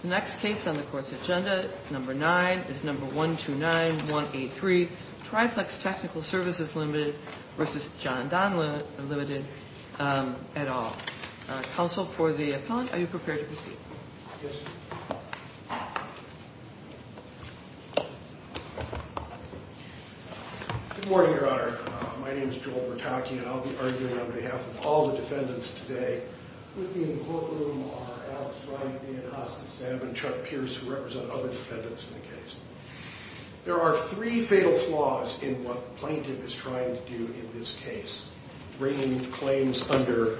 The next case on the court's agenda, number nine, is number 129183, Tri-Plex Technical Services, Ltd. v. Jon-Don, Ltd., et al. Counsel for the appellant, are you prepared to proceed? Yes. Good morning, Your Honor. My name is Joel Bertocchi, and I'll be arguing on behalf of all the defendants today. With me in the courtroom are Alex Wright, Dan Haas, Sam and Chuck Pierce, who represent other defendants in the case. There are three fatal flaws in what the plaintiff is trying to do in this case, bringing claims under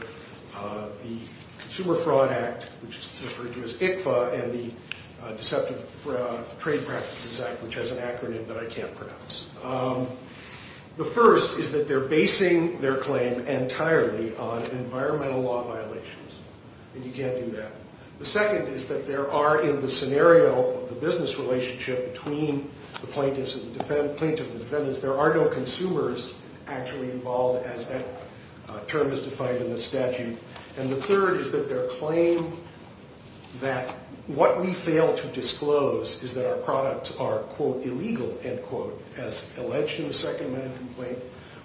the Consumer Fraud Act, which is referred to as ICFA, and the Deceptive Trade Practices Act, which has an acronym that I can't pronounce. The first is that they're basing their claim entirely on environmental law violations, and you can't do that. The second is that there are, in the scenario of the business relationship between the plaintiffs and the defendants, there are no consumers actually involved, as that term is defined in the statute. And the third is that their claim that what we fail to disclose is that our products are, quote, illegal, end quote, as alleged in the Second Amendment complaint,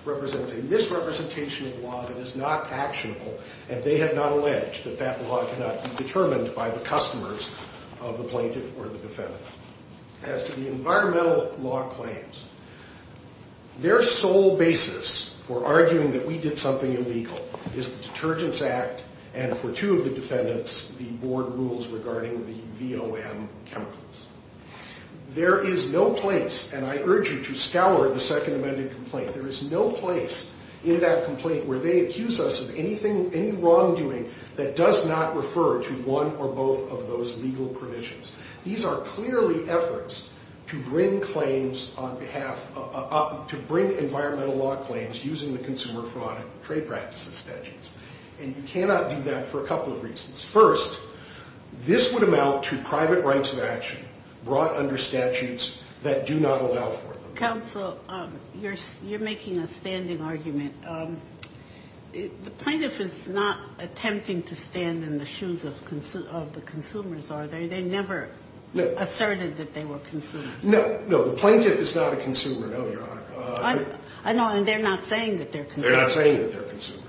represents a misrepresentation of law that is not actionable, and they have not alleged that that law cannot be determined by the customers of the plaintiff or the defendant. As to the environmental law claims, their sole basis for arguing that we did something illegal is the Detergents Act, and for two of the defendants, the board rules regarding the VOM chemicals. There is no place, and I urge you to scour the Second Amendment complaint, there is no place in that complaint where they accuse us of anything, any wrongdoing that does not refer to one or both of those legal provisions. These are clearly efforts to bring environmental law claims using the consumer fraud and trade practices statutes, and you cannot do that for a couple of reasons. First, this would amount to private rights of action brought under statutes that do not allow for them. Counsel, you're making a standing argument. The plaintiff is not attempting to stand in the shoes of the consumers, are they? They never asserted that they were consumers. No, no, the plaintiff is not a consumer, no, Your Honor. I know, and they're not saying that they're consumers. They're not saying that they're consumers.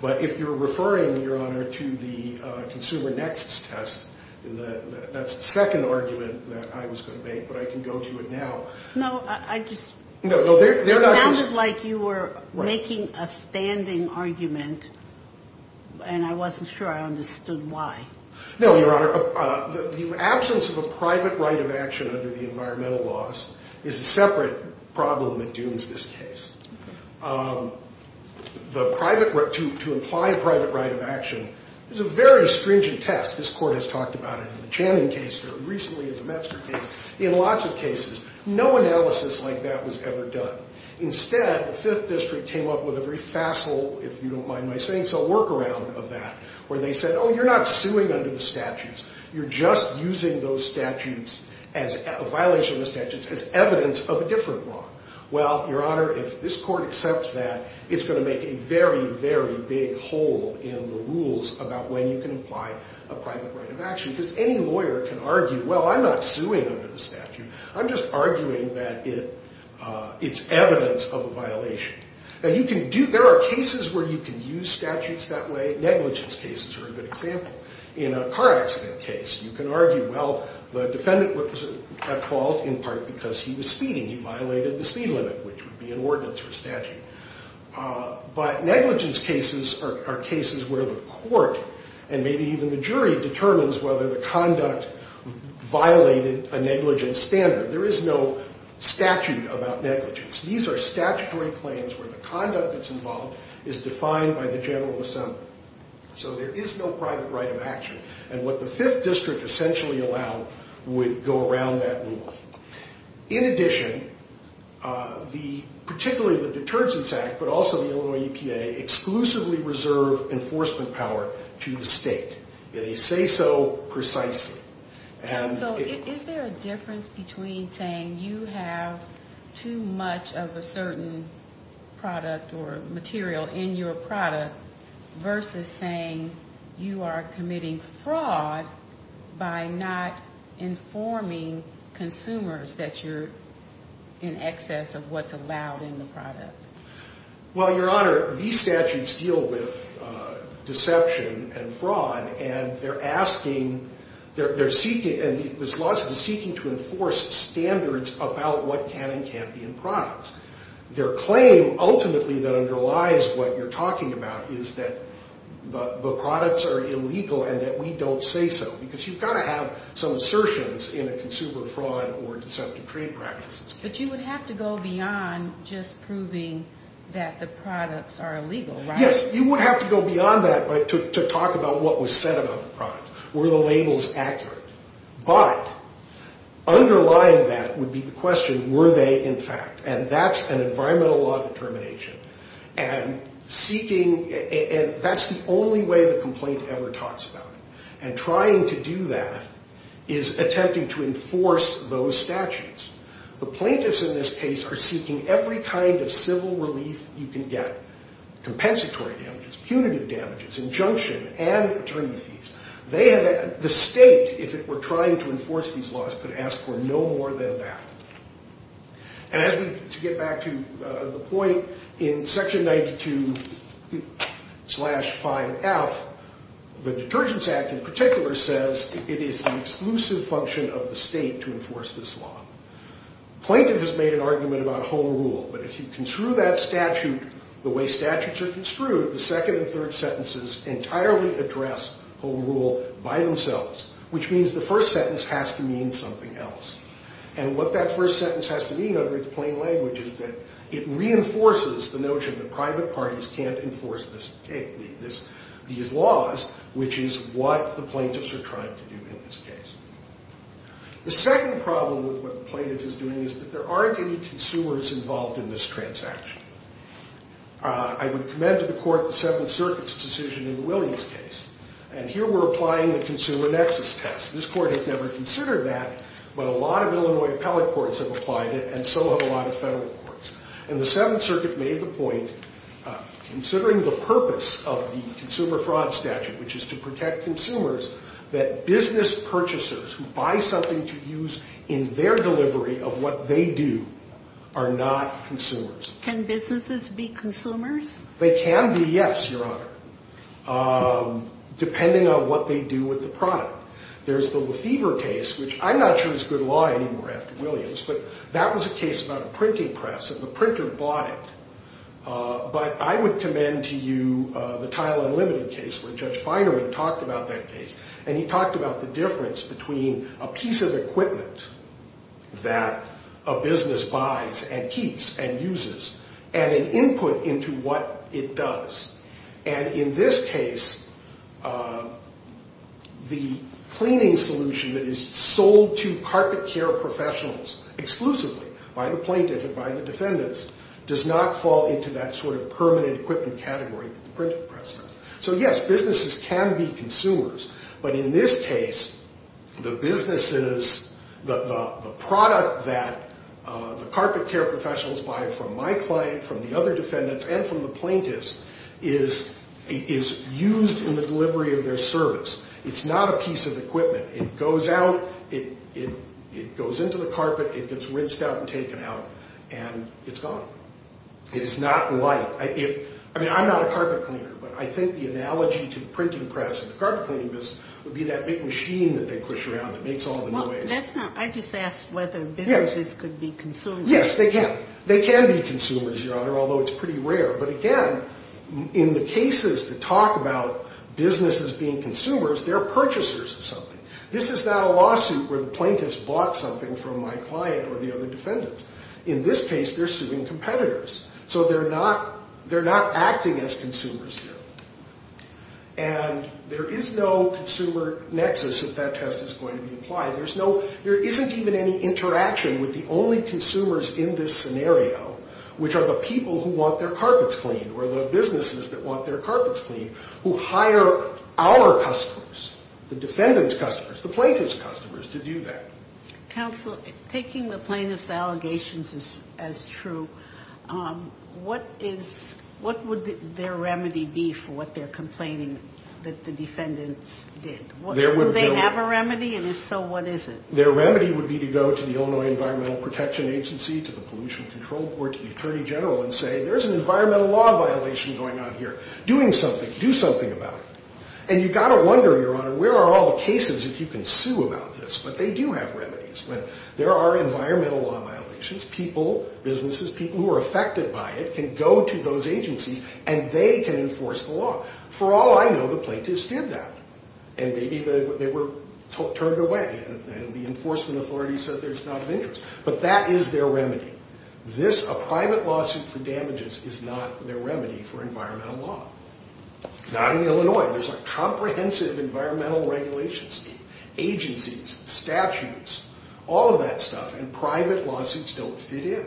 But if you're referring, Your Honor, to the Consumer Next test, that's the second argument that I was going to make, but I can go to it now. No, I just... No, no, they're not... It sounded like you were making a standing argument, and I wasn't sure I understood why. No, Your Honor, the absence of a private right of action under the environmental laws is a separate problem that dooms this case. The private right to apply a private right of action is a very stringent test. This Court has talked about it in the Channing case, very recently in the Metzger case, in lots of cases. No analysis like that was ever done. Instead, the Fifth District came up with a very facile, if you don't mind my saying so, workaround of that, where they said, oh, you're not suing under the statutes. You're just using those statutes, a violation of the statutes, as evidence of a different law. Well, Your Honor, if this Court accepts that, it's going to make a very, very big hole in the rules about when you can apply a private right of action, because any lawyer can argue, well, I'm not suing under the statute. I'm just arguing that it's evidence of a violation. There are cases where you can use statutes that way. Negligence cases are a good example. In a car accident case, you can argue, well, the defendant was at fault in part because he was speeding. He violated the speed limit, which would be an ordinance or statute. But negligence cases are cases where the Court, and maybe even the jury, determines whether the conduct violated a negligence standard. There is no statute about negligence. These are statutory claims where the conduct that's involved is defined by the general assembly. So there is no private right of action. And what the Fifth District essentially allowed would go around that rule. In addition, particularly the Detergents Act, but also the Illinois EPA, exclusively reserve enforcement power to the state. They say so precisely. So is there a difference between saying you have too much of a certain product or material in your product versus saying you are committing fraud by not informing consumers that you're in excess of what's allowed in the product? Well, Your Honor, these statutes deal with deception and fraud. And they're seeking to enforce standards about what can and can't be in products. Their claim, ultimately, that underlies what you're talking about is that the products are illegal and that we don't say so. Because you've got to have some assertions in a consumer fraud or deceptive trade practice. But you would have to go beyond just proving that the products are illegal, right? Yes, you would have to go beyond that to talk about what was said about the product. Were the labels accurate? But underlying that would be the question, were they in fact? And that's an environmental law determination. And that's the only way the complaint ever talks about it. And trying to do that is attempting to enforce those statutes. The plaintiffs in this case are seeking every kind of civil relief you can get, compensatory damages, punitive damages, injunction, and attorney fees. The state, if it were trying to enforce these laws, could ask for no more than that. And as we get back to the point in Section 92-5F, the Detergents Act in particular says it is the exclusive function of the state to enforce this law. The plaintiff has made an argument about home rule. But if you construe that statute the way statutes are construed, the second and third sentences entirely address home rule by themselves, which means the first sentence has to mean something else. And what that first sentence has to mean under its plain language is that it reinforces the notion that private parties can't enforce these laws, which is what the plaintiffs are trying to do in this case. The second problem with what the plaintiff is doing is that there aren't any consumers involved in this transaction. I would commend to the Court the Seventh Circuit's decision in Williams' case. And here we're applying the consumer nexus test. This Court has never considered that, but a lot of Illinois appellate courts have applied it, and so have a lot of federal courts. And the Seventh Circuit made the point, considering the purpose of the consumer fraud statute, which is to protect consumers, that business purchasers who buy something to use in their delivery of what they do are not consumers. Can businesses be consumers? They can be, yes, Your Honor, depending on what they do with the product. There's the Lefevre case, which I'm not sure is good law anymore after Williams, but that was a case about a printing press, and the printer bought it. But I would commend to you the Tile Unlimited case where Judge Feinerman talked about that case, and he talked about the difference between a piece of equipment that a business buys and keeps and uses and an input into what it does. And in this case, the cleaning solution that is sold to carpet care professionals exclusively by the plaintiff and by the defendants does not fall into that sort of permanent equipment category that the printing press does. So, yes, businesses can be consumers. But in this case, the businesses, the product that the carpet care professionals buy from my client, from the other defendants, and from the plaintiffs is used in the delivery of their service. It's not a piece of equipment. It goes out, it goes into the carpet, it gets rinsed out and taken out, and it's gone. It is not light. I mean, I'm not a carpet cleaner, but I think the analogy to the printing press and the carpet cleaning business would be that big machine that they push around that makes all the noise. I just asked whether businesses could be consumers. Yes, they can. They can be consumers, Your Honor, although it's pretty rare. But again, in the cases that talk about businesses being consumers, they're purchasers of something. This is not a lawsuit where the plaintiff's bought something from my client or the other defendants. In this case, they're suing competitors. So they're not acting as consumers here. And there is no consumer nexus that that test is going to be applying. There isn't even any interaction with the only consumers in this scenario, which are the people who want their carpets cleaned or the businesses that want their carpets cleaned, who hire our customers, the defendant's customers, the plaintiff's customers, to do that. Counsel, taking the plaintiff's allegations as true, what would their remedy be for what they're complaining that the defendants did? Do they have a remedy? And if so, what is it? Their remedy would be to go to the Illinois Environmental Protection Agency, to the Pollution Control Board, to the Attorney General, and say there's an environmental law violation going on here. Doing something. Do something about it. And you've got to wonder, Your Honor, where are all the cases if you can sue about this? But they do have remedies. There are environmental law violations. People, businesses, people who are affected by it can go to those agencies, and they can enforce the law. For all I know, the plaintiffs did that. And maybe they were turned away, and the enforcement authority said there's not an interest. But that is their remedy. This, a private lawsuit for damages, is not their remedy for environmental law. Not in Illinois. There's a comprehensive environmental regulation scheme. Agencies, statutes, all of that stuff, and private lawsuits don't fit in.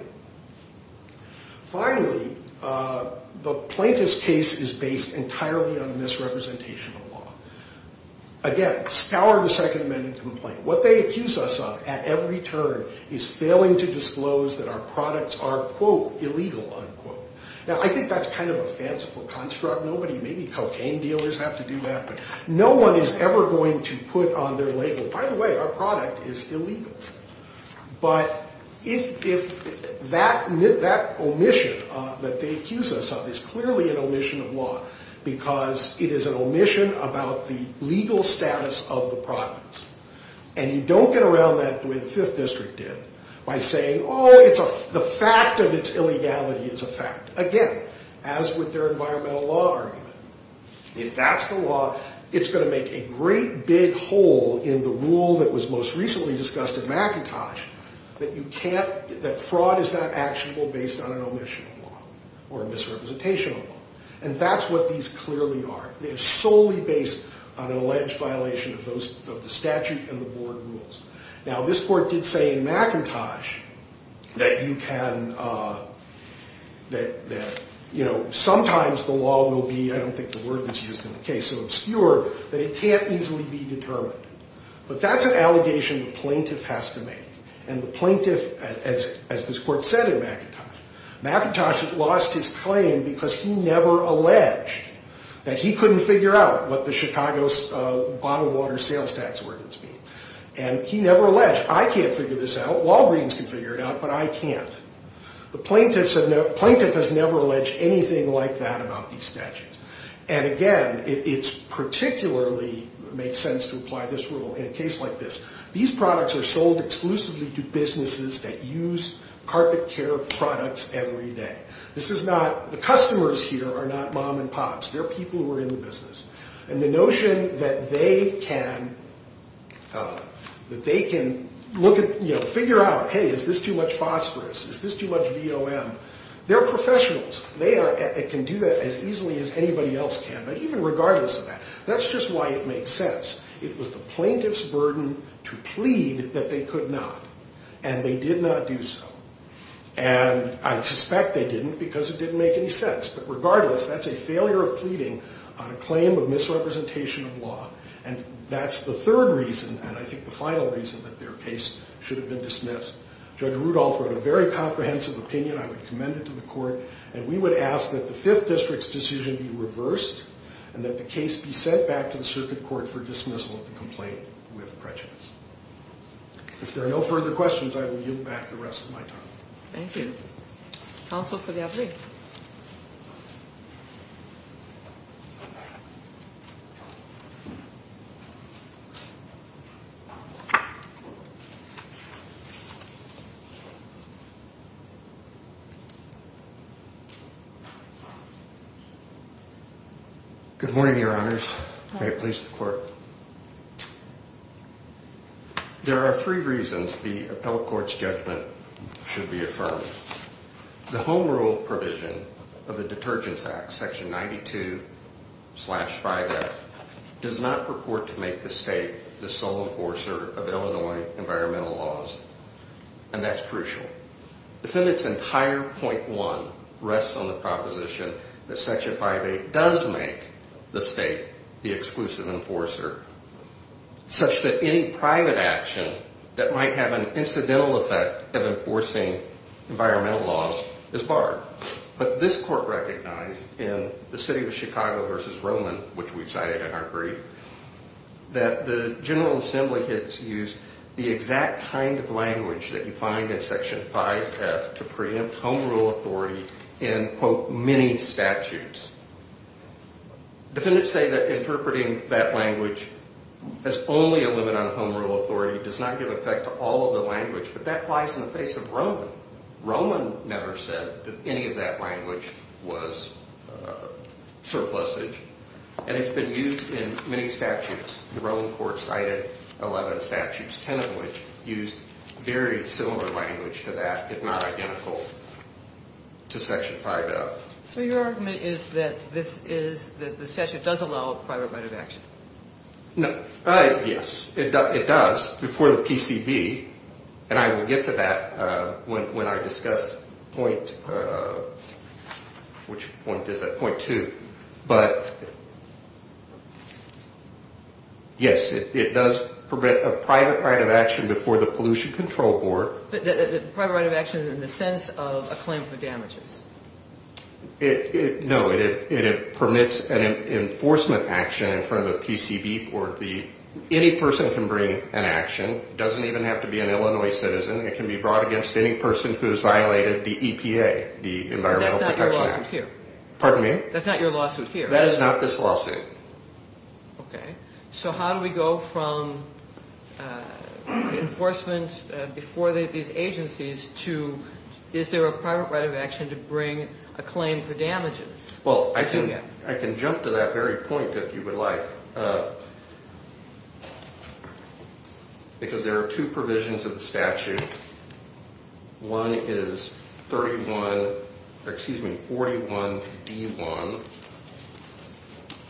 Finally, the plaintiff's case is based entirely on misrepresentation of law. Again, scour the Second Amendment complaint. What they accuse us of at every turn is failing to disclose that our products are, quote, illegal, unquote. Now, I think that's kind of a fanciful construct. Nobody, maybe cocaine dealers have to do that. But no one is ever going to put on their label, By the way, our product is illegal. But that omission that they accuse us of is clearly an omission of law because it is an omission about the legal status of the products. And you don't get around that the way the Fifth District did by saying, oh, the fact of its illegality is a fact. Again, as with their environmental law argument, if that's the law, it's going to make a great big hole in the rule that was most recently discussed at McIntosh that fraud is not actionable based on an omission of law or a misrepresentation of law. And that's what these clearly are. They're solely based on an alleged violation of the statute and the board rules. Now, this court did say in McIntosh that you can, that sometimes the law will be, I don't think the word was used in the case, so obscure that it can't easily be determined. But that's an allegation the plaintiff has to make. And the plaintiff, as this court said in McIntosh, McIntosh lost his claim because he never alleged that he couldn't figure out what the Chicago's bottled water sales tax ordinance means. And he never alleged, I can't figure this out, Walgreens can figure it out, but I can't. The plaintiff has never alleged anything like that about these statutes. And again, it particularly makes sense to apply this rule in a case like this. These products are sold exclusively to businesses that use carpet care products every day. This is not, the customers here are not mom and pops. They're people who are in the business. And the notion that they can, that they can look at, you know, figure out, hey, is this too much phosphorus, is this too much VOM, they're professionals. They can do that as easily as anybody else can. But even regardless of that, that's just why it makes sense. It was the plaintiff's burden to plead that they could not. And they did not do so. And I suspect they didn't because it didn't make any sense. But regardless, that's a failure of pleading on a claim of misrepresentation of law. And that's the third reason, and I think the final reason, that their case should have been dismissed. Judge Rudolph wrote a very comprehensive opinion. I would commend it to the court. And we would ask that the Fifth District's decision be reversed and that the case be sent back to the circuit court for dismissal of the complaint with prejudice. If there are no further questions, I will yield back the rest of my time. Thank you. Counsel for the appellee. Good morning, Your Honors. May it please the court. There are three reasons the appellate court's judgment should be affirmed. The Home Rule provision of the Detergents Act, Section 92-5F, does not purport to make the state the sole enforcer of Illinois environmental laws. And that's crucial. The defendant's entire point one rests on the proposition that Section 5A does make the state the exclusive enforcer, such that any private action that might have an incidental effect of enforcing environmental laws is barred. But this court recognized in the City of Chicago v. Roman, which we cited in our brief, that the General Assembly has used the exact kind of language that you find in Section 5F to preempt Home Rule authority in, quote, many statutes. Defendants say that interpreting that language as only a limit on Home Rule authority does not give effect to all of the language, but that applies in the face of Roman. Roman never said that any of that language was surplusage. And it's been used in many statutes. The Roman court cited 11 statutes, 10 of which used very similar language to that, if not identical, to Section 5F. So your argument is that this is, that the statute does allow a private right of action? Yes, it does, before the PCV. And I will get to that when I discuss point, which point is that, point two. But, yes, it does permit a private right of action before the Pollution Control Board. A private right of action in the sense of a claim for damages? No, it permits an enforcement action in front of a PCV court. Any person can bring an action. It doesn't even have to be an Illinois citizen. It can be brought against any person who has violated the EPA, the Environmental Protection Act. That's not your lawsuit here. Pardon me? That's not your lawsuit here. That is not this lawsuit. Okay. So how do we go from enforcement before these agencies to, is there a private right of action to bring a claim for damages? Well, I can jump to that very point, if you would like. Because there are two provisions of the statute. One is 41D1,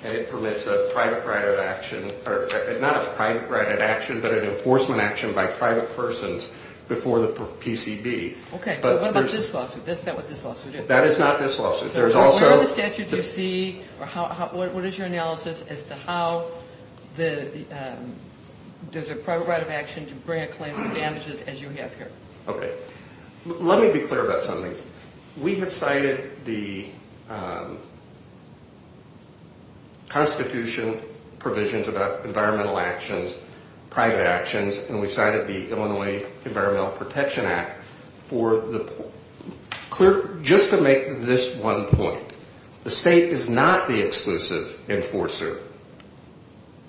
and it permits a private right of action, not a private right of action, but an enforcement action by private persons before the PCV. Okay. But what about this lawsuit? Is that what this lawsuit is? That is not this lawsuit. Where in the statute do you see, or what is your analysis as to how there's a private right of action to bring a claim for damages as you have here? Okay. Let me be clear about something. We have cited the Constitution provisions about environmental actions, private actions, and we cited the Illinois Environmental Protection Act for the clear, just to make this one point, the state is not the exclusive enforcer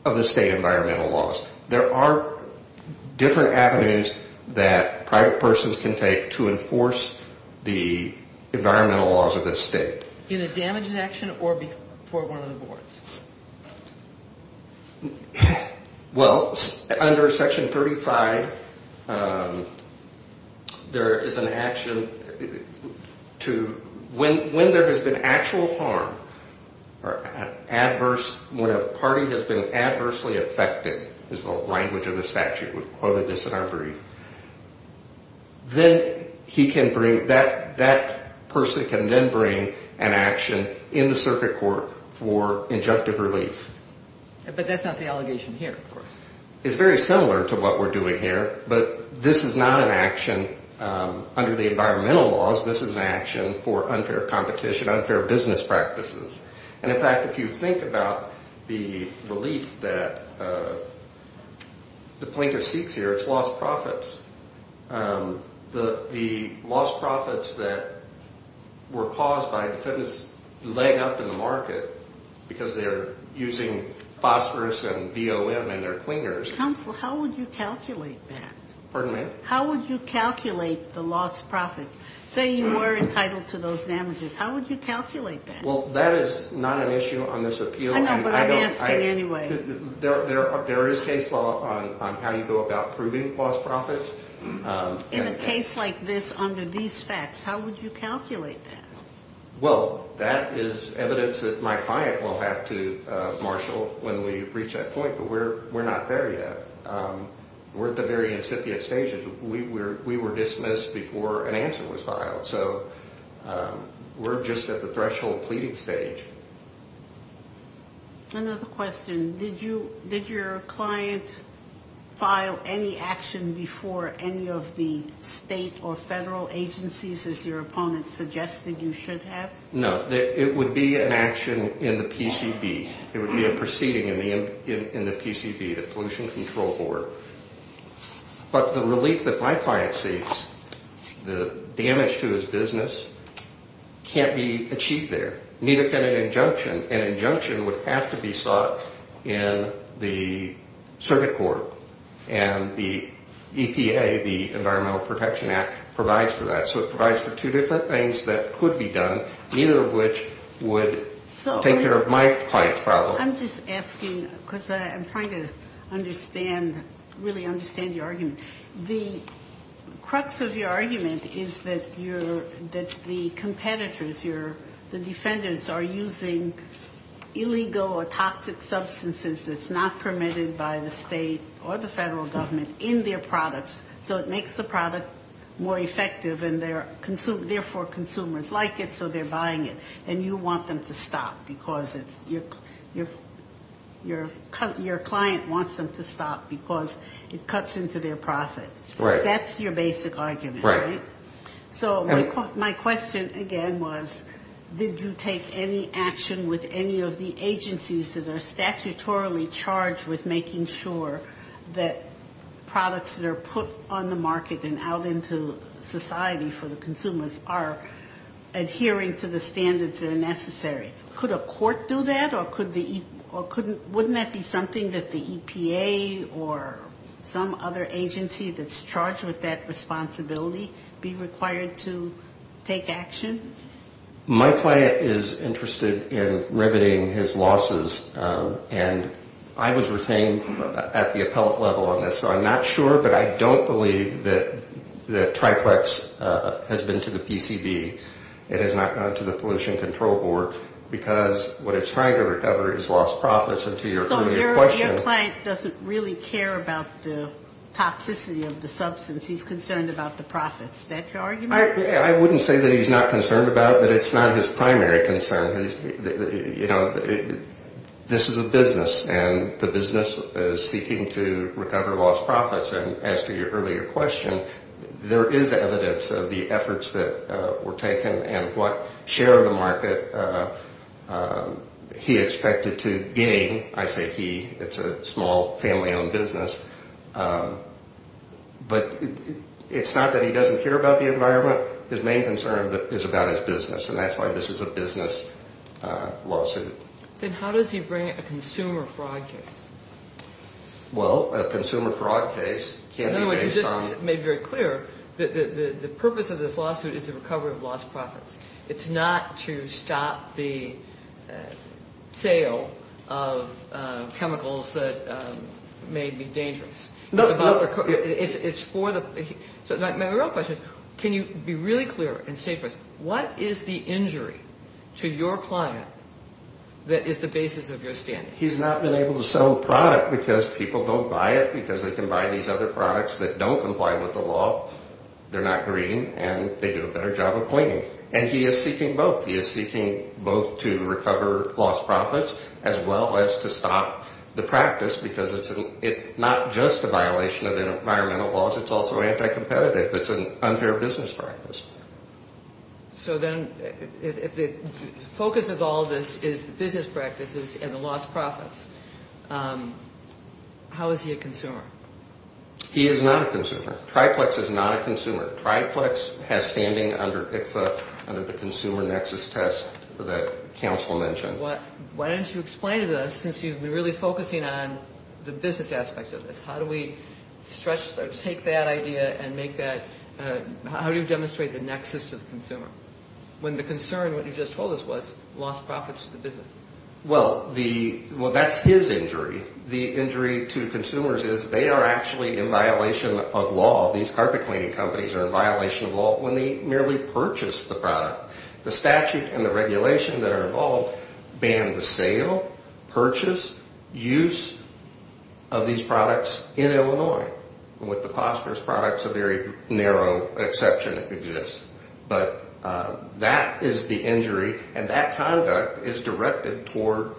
of the state environmental laws. There are different avenues that private persons can take to enforce the environmental laws of the state. Either damage in action or before one of the boards? Well, under Section 35, there is an action to, when there has been actual harm, or adverse, when a party has been adversely affected is the language of the statute. We've quoted this in our brief. Then he can bring, that person can then bring an action in the circuit court for injunctive relief. But that's not the allegation here, of course. It's very similar to what we're doing here, but this is not an action under the environmental laws. This is an action for unfair competition, unfair business practices. And, in fact, if you think about the relief that the plaintiff seeks here, it's lost profits. The lost profits that were caused by defendants laying up in the market because they're using phosphorus and VOM in their cleaners. Counsel, how would you calculate that? Pardon me? How would you calculate the lost profits? Say you were entitled to those damages. How would you calculate that? Well, that is not an issue on this appeal. I know, but I'm asking anyway. There is case law on how you go about proving lost profits. In a case like this, under these facts, how would you calculate that? Well, that is evidence that my client will have to marshal when we reach that point. But we're not there yet. We're at the very incipient stages. We were dismissed before an answer was filed. So we're just at the threshold pleading stage. Another question. Did your client file any action before any of the state or federal agencies, as your opponent suggested you should have? No. It would be an action in the PCB. It would be a proceeding in the PCB, the Pollution Control Board. But the relief that my client seeks, the damage to his business, can't be achieved there. Neither can an injunction. An injunction would have to be sought in the circuit court. And the EPA, the Environmental Protection Act, provides for that. So it provides for two different things that could be done, neither of which would take care of my client's problems. I'm just asking because I'm trying to understand, really understand your argument. The crux of your argument is that the competitors, the defendants, are using illegal or toxic substances that's not permitted by the state or the federal government in their products. So it makes the product more effective, and therefore consumers like it, so they're buying it. And you want them to stop because it's your client wants them to stop because it cuts into their profits. Right. That's your basic argument, right? Right. So my question, again, was did you take any action with any of the agencies that are statutorily charged with making sure that products that are put on the market and out into society for the consumers are adhering to the standards that are necessary? Could a court do that or couldn't the EPA or some other agency that's charged with that responsibility be required to take action? My client is interested in riveting his losses, and I was retained at the appellate level on this, so I'm not sure, but I don't believe that Triplex has been to the PCB. It has not gone to the Pollution Control Board because what it's trying to recover is lost profits. So your client doesn't really care about the toxicity of the substance. He's concerned about the profits. Is that your argument? I wouldn't say that he's not concerned about it, but it's not his primary concern. You know, this is a business, and the business is seeking to recover lost profits, and as to your earlier question, there is evidence of the efforts that were taken and what share of the market he expected to gain. I say he. It's a small family-owned business, but it's not that he doesn't care about the environment. His main concern is about his business, and that's why this is a business lawsuit. Then how does he bring a consumer fraud case? Well, a consumer fraud case can't be based on— In other words, you just made very clear that the purpose of this lawsuit is to recover lost profits. It's not to stop the sale of chemicals that may be dangerous. My real question is, can you be really clear and state first, what is the injury to your client that is the basis of your standing? He's not been able to sell the product because people don't buy it, because they can buy these other products that don't comply with the law. They're not green, and they do a better job of cleaning. And he is seeking both. He is seeking both to recover lost profits as well as to stop the practice, because it's not just a violation of environmental laws. It's also anti-competitive. It's an unfair business practice. So then if the focus of all this is the business practices and the lost profits, how is he a consumer? He is not a consumer. Triplex is not a consumer. Triplex has standing under ICFA, under the consumer nexus test that counsel mentioned. Why don't you explain to us, since you've been really focusing on the business aspects of this, how do we stretch or take that idea and make that – how do you demonstrate the nexus to the consumer? When the concern, what you just told us, was lost profits to the business. Well, that's his injury. The injury to consumers is they are actually in violation of law. These carpet cleaning companies are in violation of law when they merely purchase the product. The statute and the regulation that are involved ban the sale, purchase, use of these products in Illinois. With the Cosper's products, a very narrow exception exists. But that is the injury, and that conduct is directed toward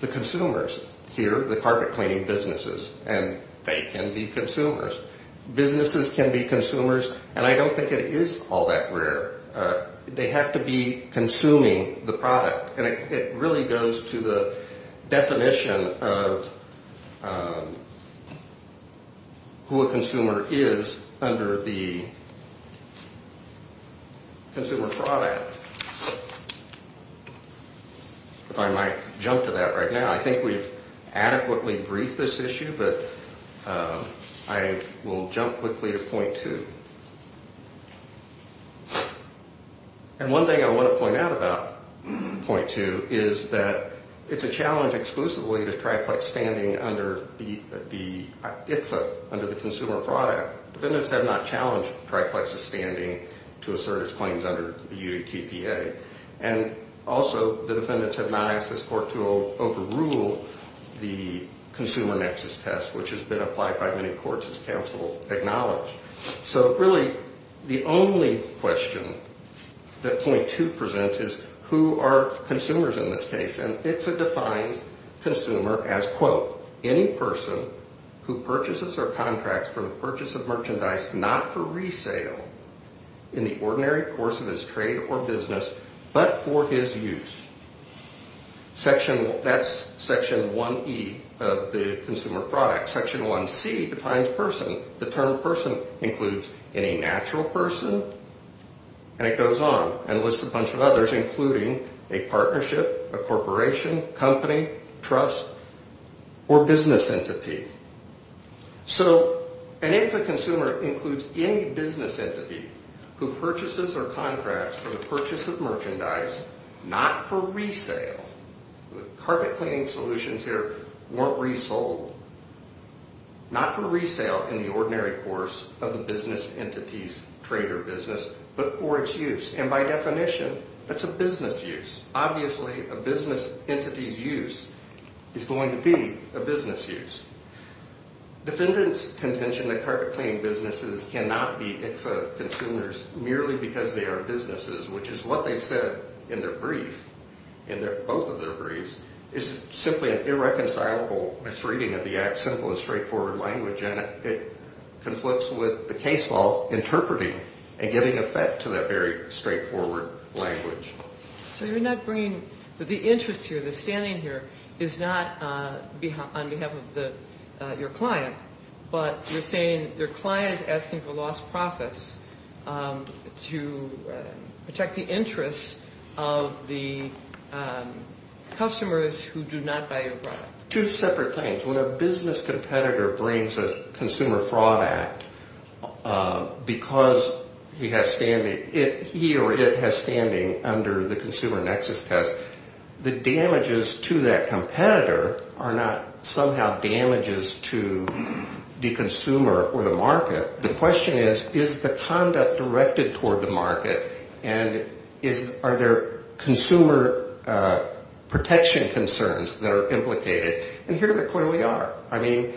the consumers. Here, the carpet cleaning businesses, and they can be consumers. Businesses can be consumers. And I don't think it is all that rare. They have to be consuming the product. And it really goes to the definition of who a consumer is under the Consumer Fraud Act. If I might jump to that right now. I think we've adequately briefed this issue, but I will jump quickly to point two. And one thing I want to point out about point two is that it's a challenge exclusively to TriPlex standing under the Consumer Fraud Act. Defendants have not challenged TriPlex's standing to assert its claims under the UDTPA. And also, the defendants have not asked this court to overrule the consumer nexus test, which has been applied by many courts as counsel acknowledged. So really, the only question that point two presents is who are consumers in this case? And it defines consumer as, quote, any person who purchases or contracts for the purchase of merchandise not for resale in the ordinary course of his trade or business, but for his use. That's section 1E of the Consumer Fraud Act. Section 1C defines person. The term person includes any natural person. And it goes on and lists a bunch of others, including a partnership, a corporation, company, trust, or business entity. So, and if a consumer includes any business entity who purchases or contracts for the purchase of merchandise not for resale, carpet cleaning solutions here weren't resold, not for resale in the ordinary course of the business entity's trade or business, but for its use. And by definition, that's a business use. Obviously, a business entity's use is going to be a business use. Defendant's contention that carpet cleaning businesses cannot be ICFA consumers merely because they are businesses, which is what they've said in their brief, in both of their briefs, is simply an irreconcilable misreading of the Act's simple and straightforward language. And it conflicts with the case law interpreting and giving effect to that very straightforward language. So you're not bringing, the interest here, the standing here is not on behalf of your client, but you're saying your client is asking for lost profits to protect the interests of the customers who do not buy your product. Two separate things. When a business competitor brings a consumer fraud act because he or it has standing under the Consumer Nexus Test, the damages to that competitor are not somehow damages to the consumer or the market. The question is, is the conduct directed toward the market, and are there consumer protection concerns that are implicated? And here they clearly are. I mean,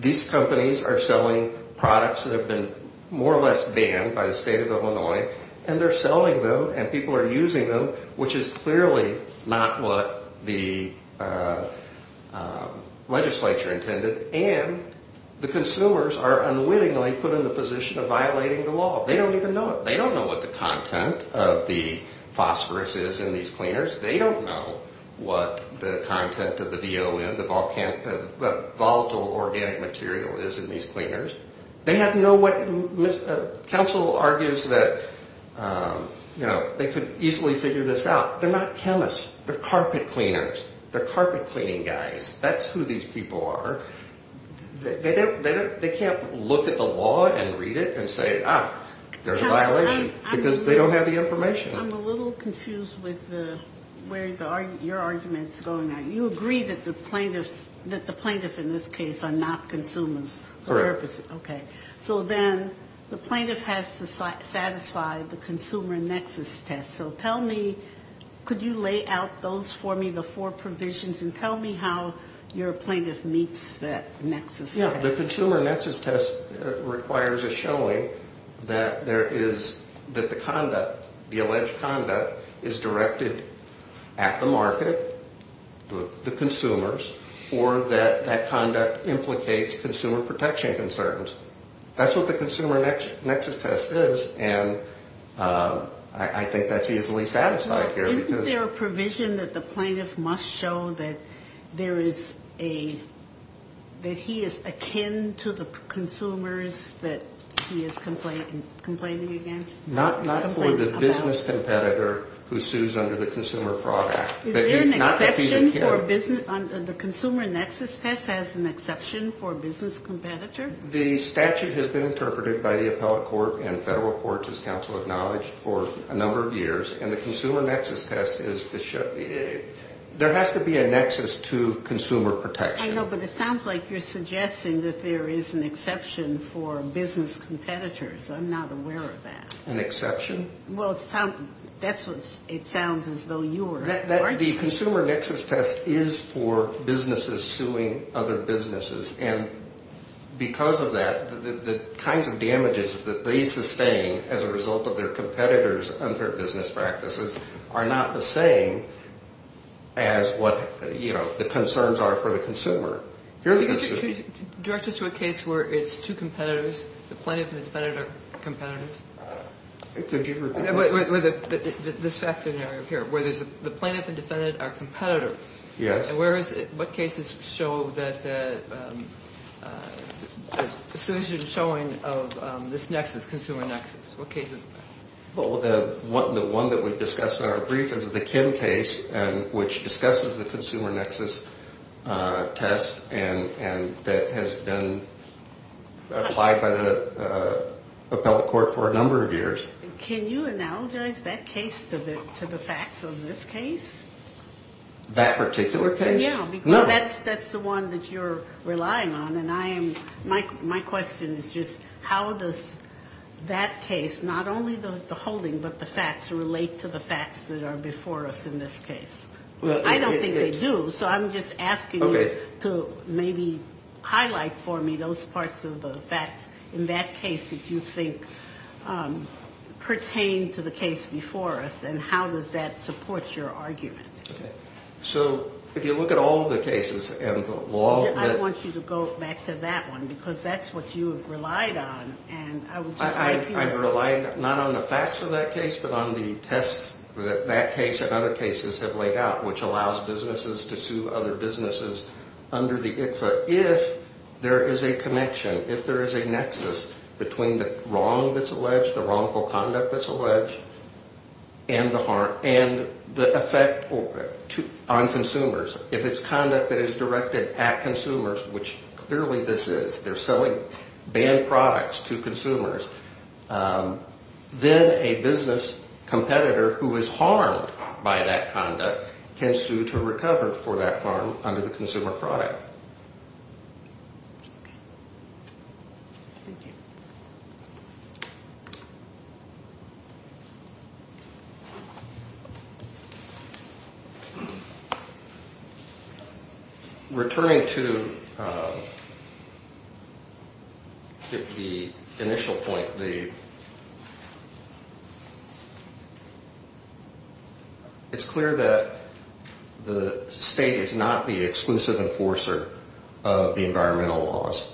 these companies are selling products that have been more or less banned by the state of Illinois, and they're selling them and people are using them, which is clearly not what the legislature intended, and the consumers are unwittingly put in the position of violating the law. They don't even know it. They don't know what the content of the phosphorus is in these cleaners. They don't know what the content of the VON, the volatile organic material is in these cleaners. They have no what, counsel argues that, you know, they could easily figure this out. They're not chemists. They're carpet cleaners. They're carpet cleaning guys. That's who these people are. They can't look at the law and read it and say, ah, there's a violation because they don't have the information. I'm a little confused with where your argument's going on. You agree that the plaintiffs in this case are not consumers. Correct. Okay. So then the plaintiff has to satisfy the consumer nexus test. So tell me, could you lay out those for me, the four provisions, and tell me how your plaintiff meets that nexus test? The consumer nexus test requires a showing that there is, that the conduct, the alleged conduct is directed at the market, the consumers, or that that conduct implicates consumer protection concerns. That's what the consumer nexus test is, and I think that's easily satisfied here. Isn't there a provision that the plaintiff must show that there is a, that he is akin to the consumers that he is complaining against? Not for the business competitor who sues under the Consumer Fraud Act. Is there an exception for business, the consumer nexus test has an exception for business competitor? The statute has been interpreted by the appellate court and federal courts, as counsel acknowledged, for a number of years, and the consumer nexus test is to show, there has to be a nexus to consumer protection. I know, but it sounds like you're suggesting that there is an exception for business competitors. I'm not aware of that. An exception? Well, that's what, it sounds as though you were. The consumer nexus test is for businesses suing other businesses, and because of that, the kinds of damages that they sustain as a result of their competitors' unfair business practices are not the same as what, you know, the concerns are for the consumer. Can you direct us to a case where it's two competitors, the plaintiff and the defendant are competitors? Could you repeat that? This fact scenario here, where the plaintiff and defendant are competitors. Yes. Where is it? What cases show that the solution is showing of this nexus, consumer nexus? What cases? Well, the one that we've discussed in our brief is the Kim case, which discusses the consumer nexus test, and that has been applied by the appellate court for a number of years. Can you analogize that case to the facts of this case? That particular case? Yeah, because that's the one that you're relying on, and I am, my question is just how does that case, not only the holding, but the facts relate to the facts that are before us in this case? I don't think they do, so I'm just asking you to maybe highlight for me those parts of the facts in that case that you think pertain to the case before us, and how does that support your argument? Okay. So if you look at all of the cases and the law that- I want you to go back to that one, because that's what you have relied on, and I would just like you to- I've relied not on the facts of that case, but on the tests that that case and other cases have laid out, which allows businesses to sue other businesses under the ICFA if there is a connection, if there is a nexus between the wrong that's alleged, the wrongful conduct that's alleged, and the effect on consumers. If it's conduct that is directed at consumers, which clearly this is, they're selling banned products to consumers, then a business competitor who is harmed by that conduct can sue to recover for that harm under the consumer product. Thank you. Returning to the initial point, it's clear that the state is not the exclusive enforcer of the environmental laws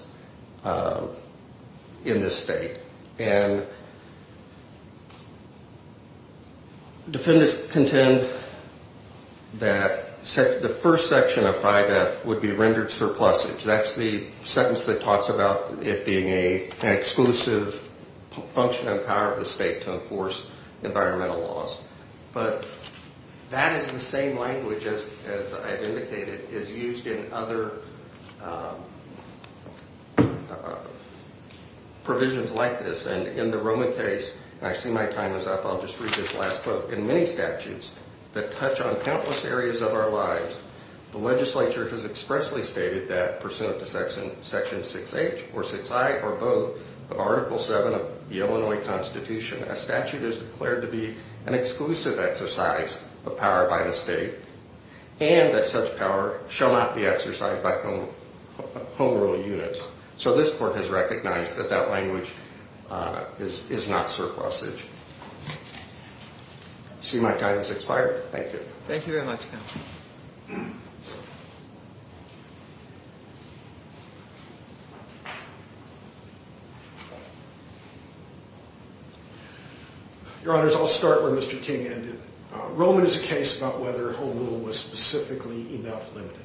in this state. And defendants contend that the first section of 5F would be rendered surplusage. That's the sentence that talks about it being an exclusive function and power of the state to enforce environmental laws. But that is the same language as I've indicated is used in other provisions like this. And in the Roman case, and I see my time is up, I'll just read this last quote. In many statutes that touch on countless areas of our lives, the legislature has expressly stated that pursuant to Section 6H or 6I or both of Article 7 of the Illinois Constitution, a statute is declared to be an exclusive exercise of power by the state and that such power shall not be exercised by home rule units. So this court has recognized that that language is not surplusage. See my time has expired? Thank you. Thank you very much, counsel. Your Honors, I'll start where Mr. King ended. Roman is a case about whether home rule was specifically enough limited.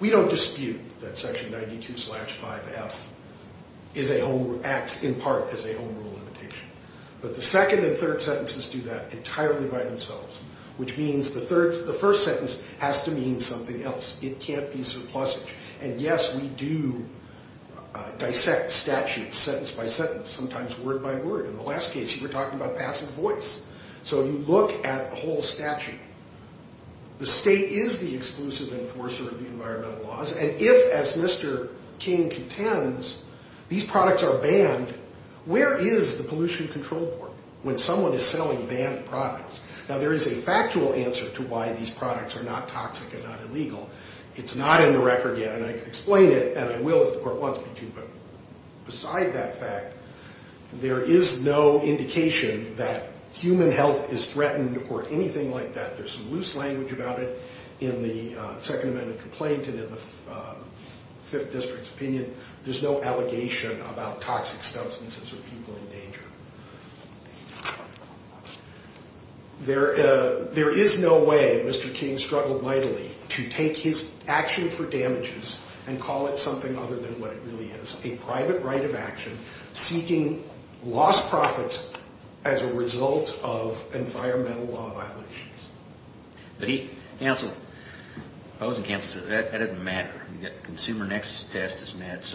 We don't dispute that Section 92-5F acts in part as a home rule limitation. But the second and third sentences do that entirely by themselves, which means the first sentence has to mean something else. It can't be surplusage. And yes, we do dissect statutes sentence by sentence, sometimes word by word. In the last case, you were talking about passive voice. So you look at the whole statute. The state is the exclusive enforcer of the environmental laws. And if, as Mr. King contends, these products are banned, where is the Pollution Control Board when someone is selling banned products? Now, there is a factual answer to why these products are not toxic and not illegal. It's not in the record yet, and I can explain it, and I will if the court wants me to. But beside that fact, there is no indication that human health is threatened or anything like that. There's some loose language about it in the Second Amendment complaint and in the Fifth District's opinion. There's no allegation about toxic substances or people in danger. There is no way Mr. King struggled mightily to take his action for damages and call it something other than what it really is, a private right of action, seeking lost profits as a result of environmental law violations. But he canceled it. That doesn't matter. The consumer nexus test is met.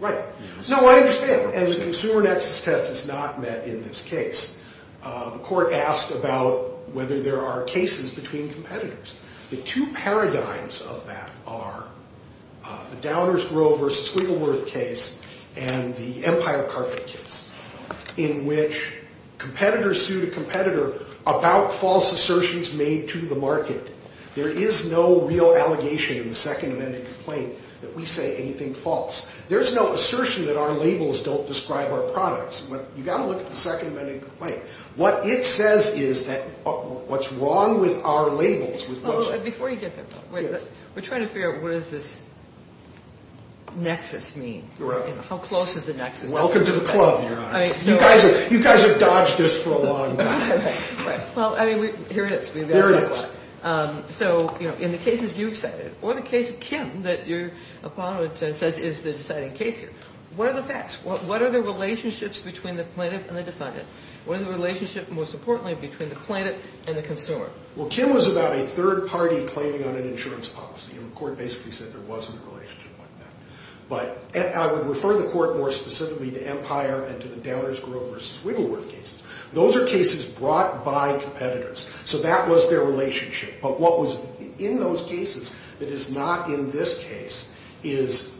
Right. No, I understand. And the consumer nexus test is not met in this case. The court asked about whether there are cases between competitors. The two paradigms of that are the Downers-Grover-Squiggleworth case and the Empire Carpet case, in which competitors sue the competitor about false assertions made to the market. There is no real allegation in the Second Amendment complaint that we say anything false. There's no assertion that our labels don't describe our products. You've got to look at the Second Amendment complaint. What it says is what's wrong with our labels. Before you get there, we're trying to figure out what does this nexus mean. How close is the nexus? Welcome to the club, Your Honor. You guys have dodged this for a long time. Well, I mean, here it is. Here it is. So in the cases you've cited or the case of Kim that your opponent says is the deciding case here, what are the facts? What are the relationships between the plaintiff and the defendant? What are the relationships, most importantly, between the plaintiff and the consumer? Well, Kim was about a third party claiming on an insurance policy, and the court basically said there wasn't a relationship like that. But I would refer the court more specifically to Empire and to the Downers-Grover-Squiggleworth cases. Those are cases brought by competitors, so that was their relationship. But what was in those cases that is not in this case is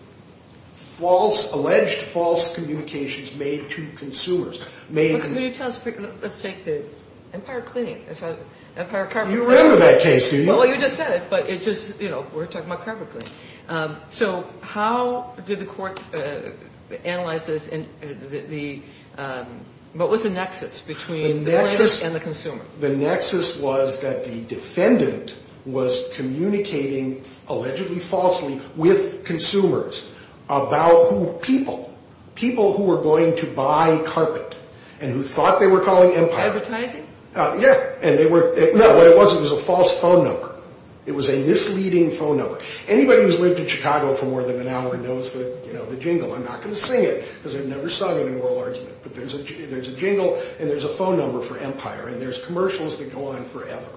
alleged false communications made to consumers. Let's take the Empire Cleaning. You remember that case, do you? Well, you just said it, but it just, you know, we're talking about carpet cleaning. So how did the court analyze this? What was the nexus between the plaintiff and the consumer? The nexus was that the defendant was communicating allegedly falsely with consumers about who people, people who were going to buy carpet and who thought they were calling Empire. Advertising? Yeah, and they were, no, what it was, it was a false phone number. It was a misleading phone number. Anybody who's lived in Chicago for more than an hour knows the, you know, the jingle. I'm not going to sing it because I've never sung it in an oral argument. But there's a jingle and there's a phone number for Empire, and there's commercials that go on forever.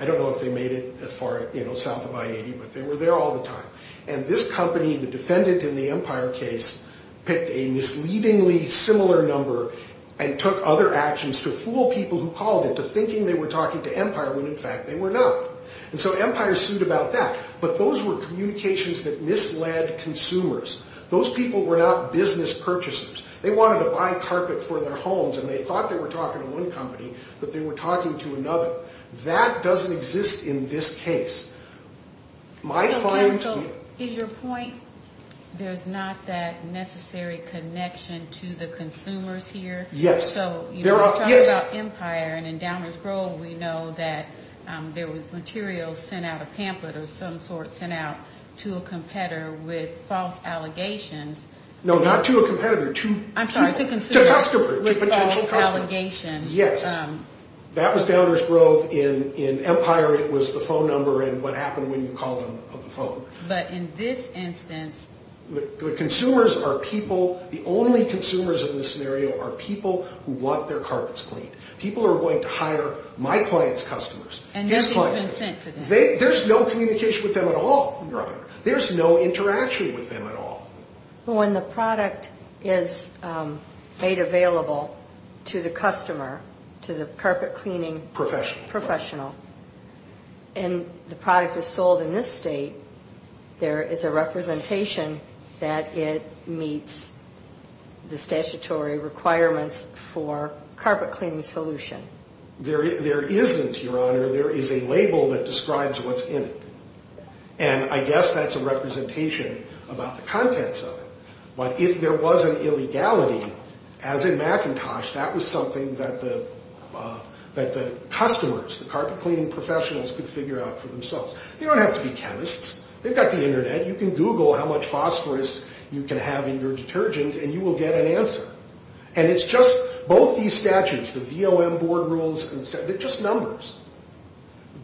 I don't know if they made it as far, you know, south of I-80, but they were there all the time. And this company, the defendant in the Empire case, picked a misleadingly similar number and took other actions to fool people who called it to thinking they were talking to Empire, when in fact they were not. And so Empire sued about that. But those were communications that misled consumers. Those people were not business purchasers. They wanted to buy carpet for their homes, and they thought they were talking to one company, but they were talking to another. That doesn't exist in this case. So, counsel, is your point there's not that necessary connection to the consumers here? Yes. So you're talking about Empire, and in Downers Grove we know that there was material sent out, a pamphlet of some sort sent out to a competitor with false allegations. No, not to a competitor. I'm sorry, to consumers. To customers, to potential customers. With false allegations. Yes. That was Downers Grove. In Empire it was the phone number and what happened when you called them on the phone. But in this instance. The consumers are people, the only consumers in this scenario are people who want their carpets cleaned. People who are going to hire my client's customers. And nothing has been sent to them. There's no communication with them at all, Your Honor. There's no interaction with them at all. When the product is made available to the customer, to the carpet cleaning professional, and the product is sold in this state, there is a representation that it meets the statutory requirements for carpet cleaning solution. There isn't, Your Honor. There is a label that describes what's in it. And I guess that's a representation about the contents of it. But if there was an illegality, as in McIntosh, that was something that the customers, the carpet cleaning professionals, could figure out for themselves. They don't have to be chemists. They've got the internet. You can Google how much phosphorus you can have in your detergent and you will get an answer. And it's just both these statutes, the VOM board rules, they're just numbers.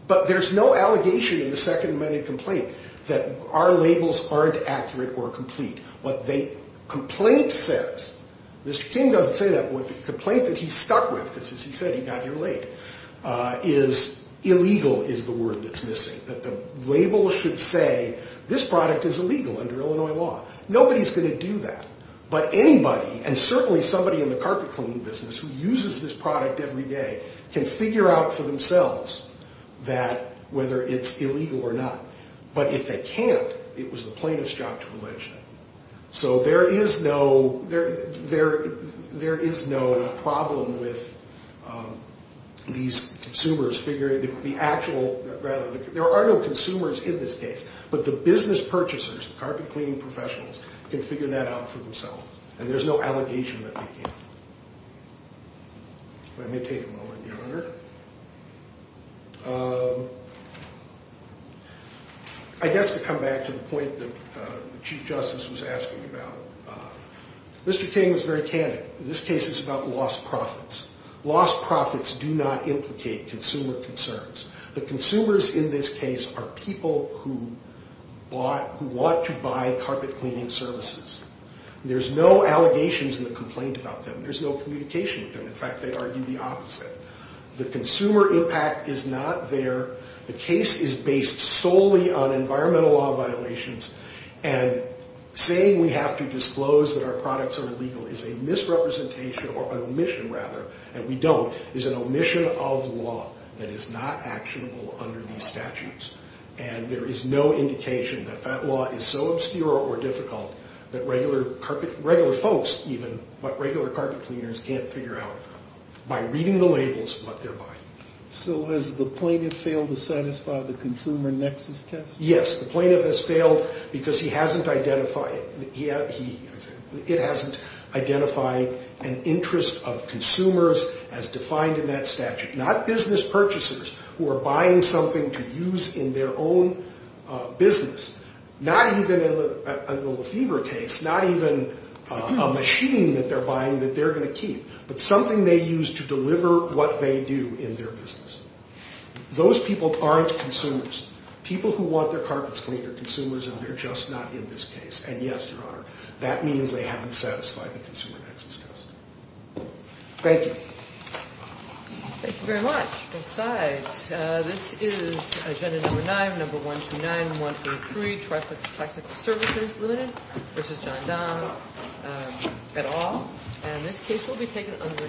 But there's no allegation in the second amended complaint that our labels aren't accurate or complete. What the complaint says, Mr. King doesn't say that, but the complaint that he's stuck with, because he said he got here late, is illegal is the word that's missing. That the label should say this product is illegal under Illinois law. Nobody's going to do that. But anybody, and certainly somebody in the carpet cleaning business who uses this product every day, can figure out for themselves whether it's illegal or not. But if they can't, it was the plaintiff's job to allege that. So there is no problem with these consumers figuring out, there are no consumers in this case, but the business purchasers, the carpet cleaning professionals, can figure that out for themselves. And there's no allegation that they can't. Let me take a moment, Your Honor. I guess to come back to the point that the Chief Justice was asking about, Mr. King was very candid. This case is about lost profits. Lost profits do not implicate consumer concerns. The consumers in this case are people who want to buy carpet cleaning services. There's no allegations in the complaint about them. There's no communication with them. In fact, they argue the opposite. The consumer impact is not there. The case is based solely on environmental law violations. And saying we have to disclose that our products are illegal is a misrepresentation, or an omission rather, and we don't, is an omission of law that is not actionable under these statutes. And there is no indication that that law is so obscure or difficult that regular folks, even regular carpet cleaners, can't figure out by reading the labels what they're buying. So has the plaintiff failed to satisfy the consumer nexus test? Yes. The plaintiff has failed because he hasn't identified it. It hasn't identified an interest of consumers as defined in that statute. Not business purchasers who are buying something to use in their own business. Not even in the fever case. Not even a machine that they're buying that they're going to keep, but something they use to deliver what they do in their business. Those people aren't consumers. People who want their carpets cleaned are consumers, and they're just not in this case. And, yes, Your Honor, that means they haven't satisfied the consumer nexus test. Thank you. Thank you very much. Both sides. All right. This is Agenda Number 9, Number 129-133, Traffic and Technical Services Limited v. John Donahue, et al. And this case will be taken under the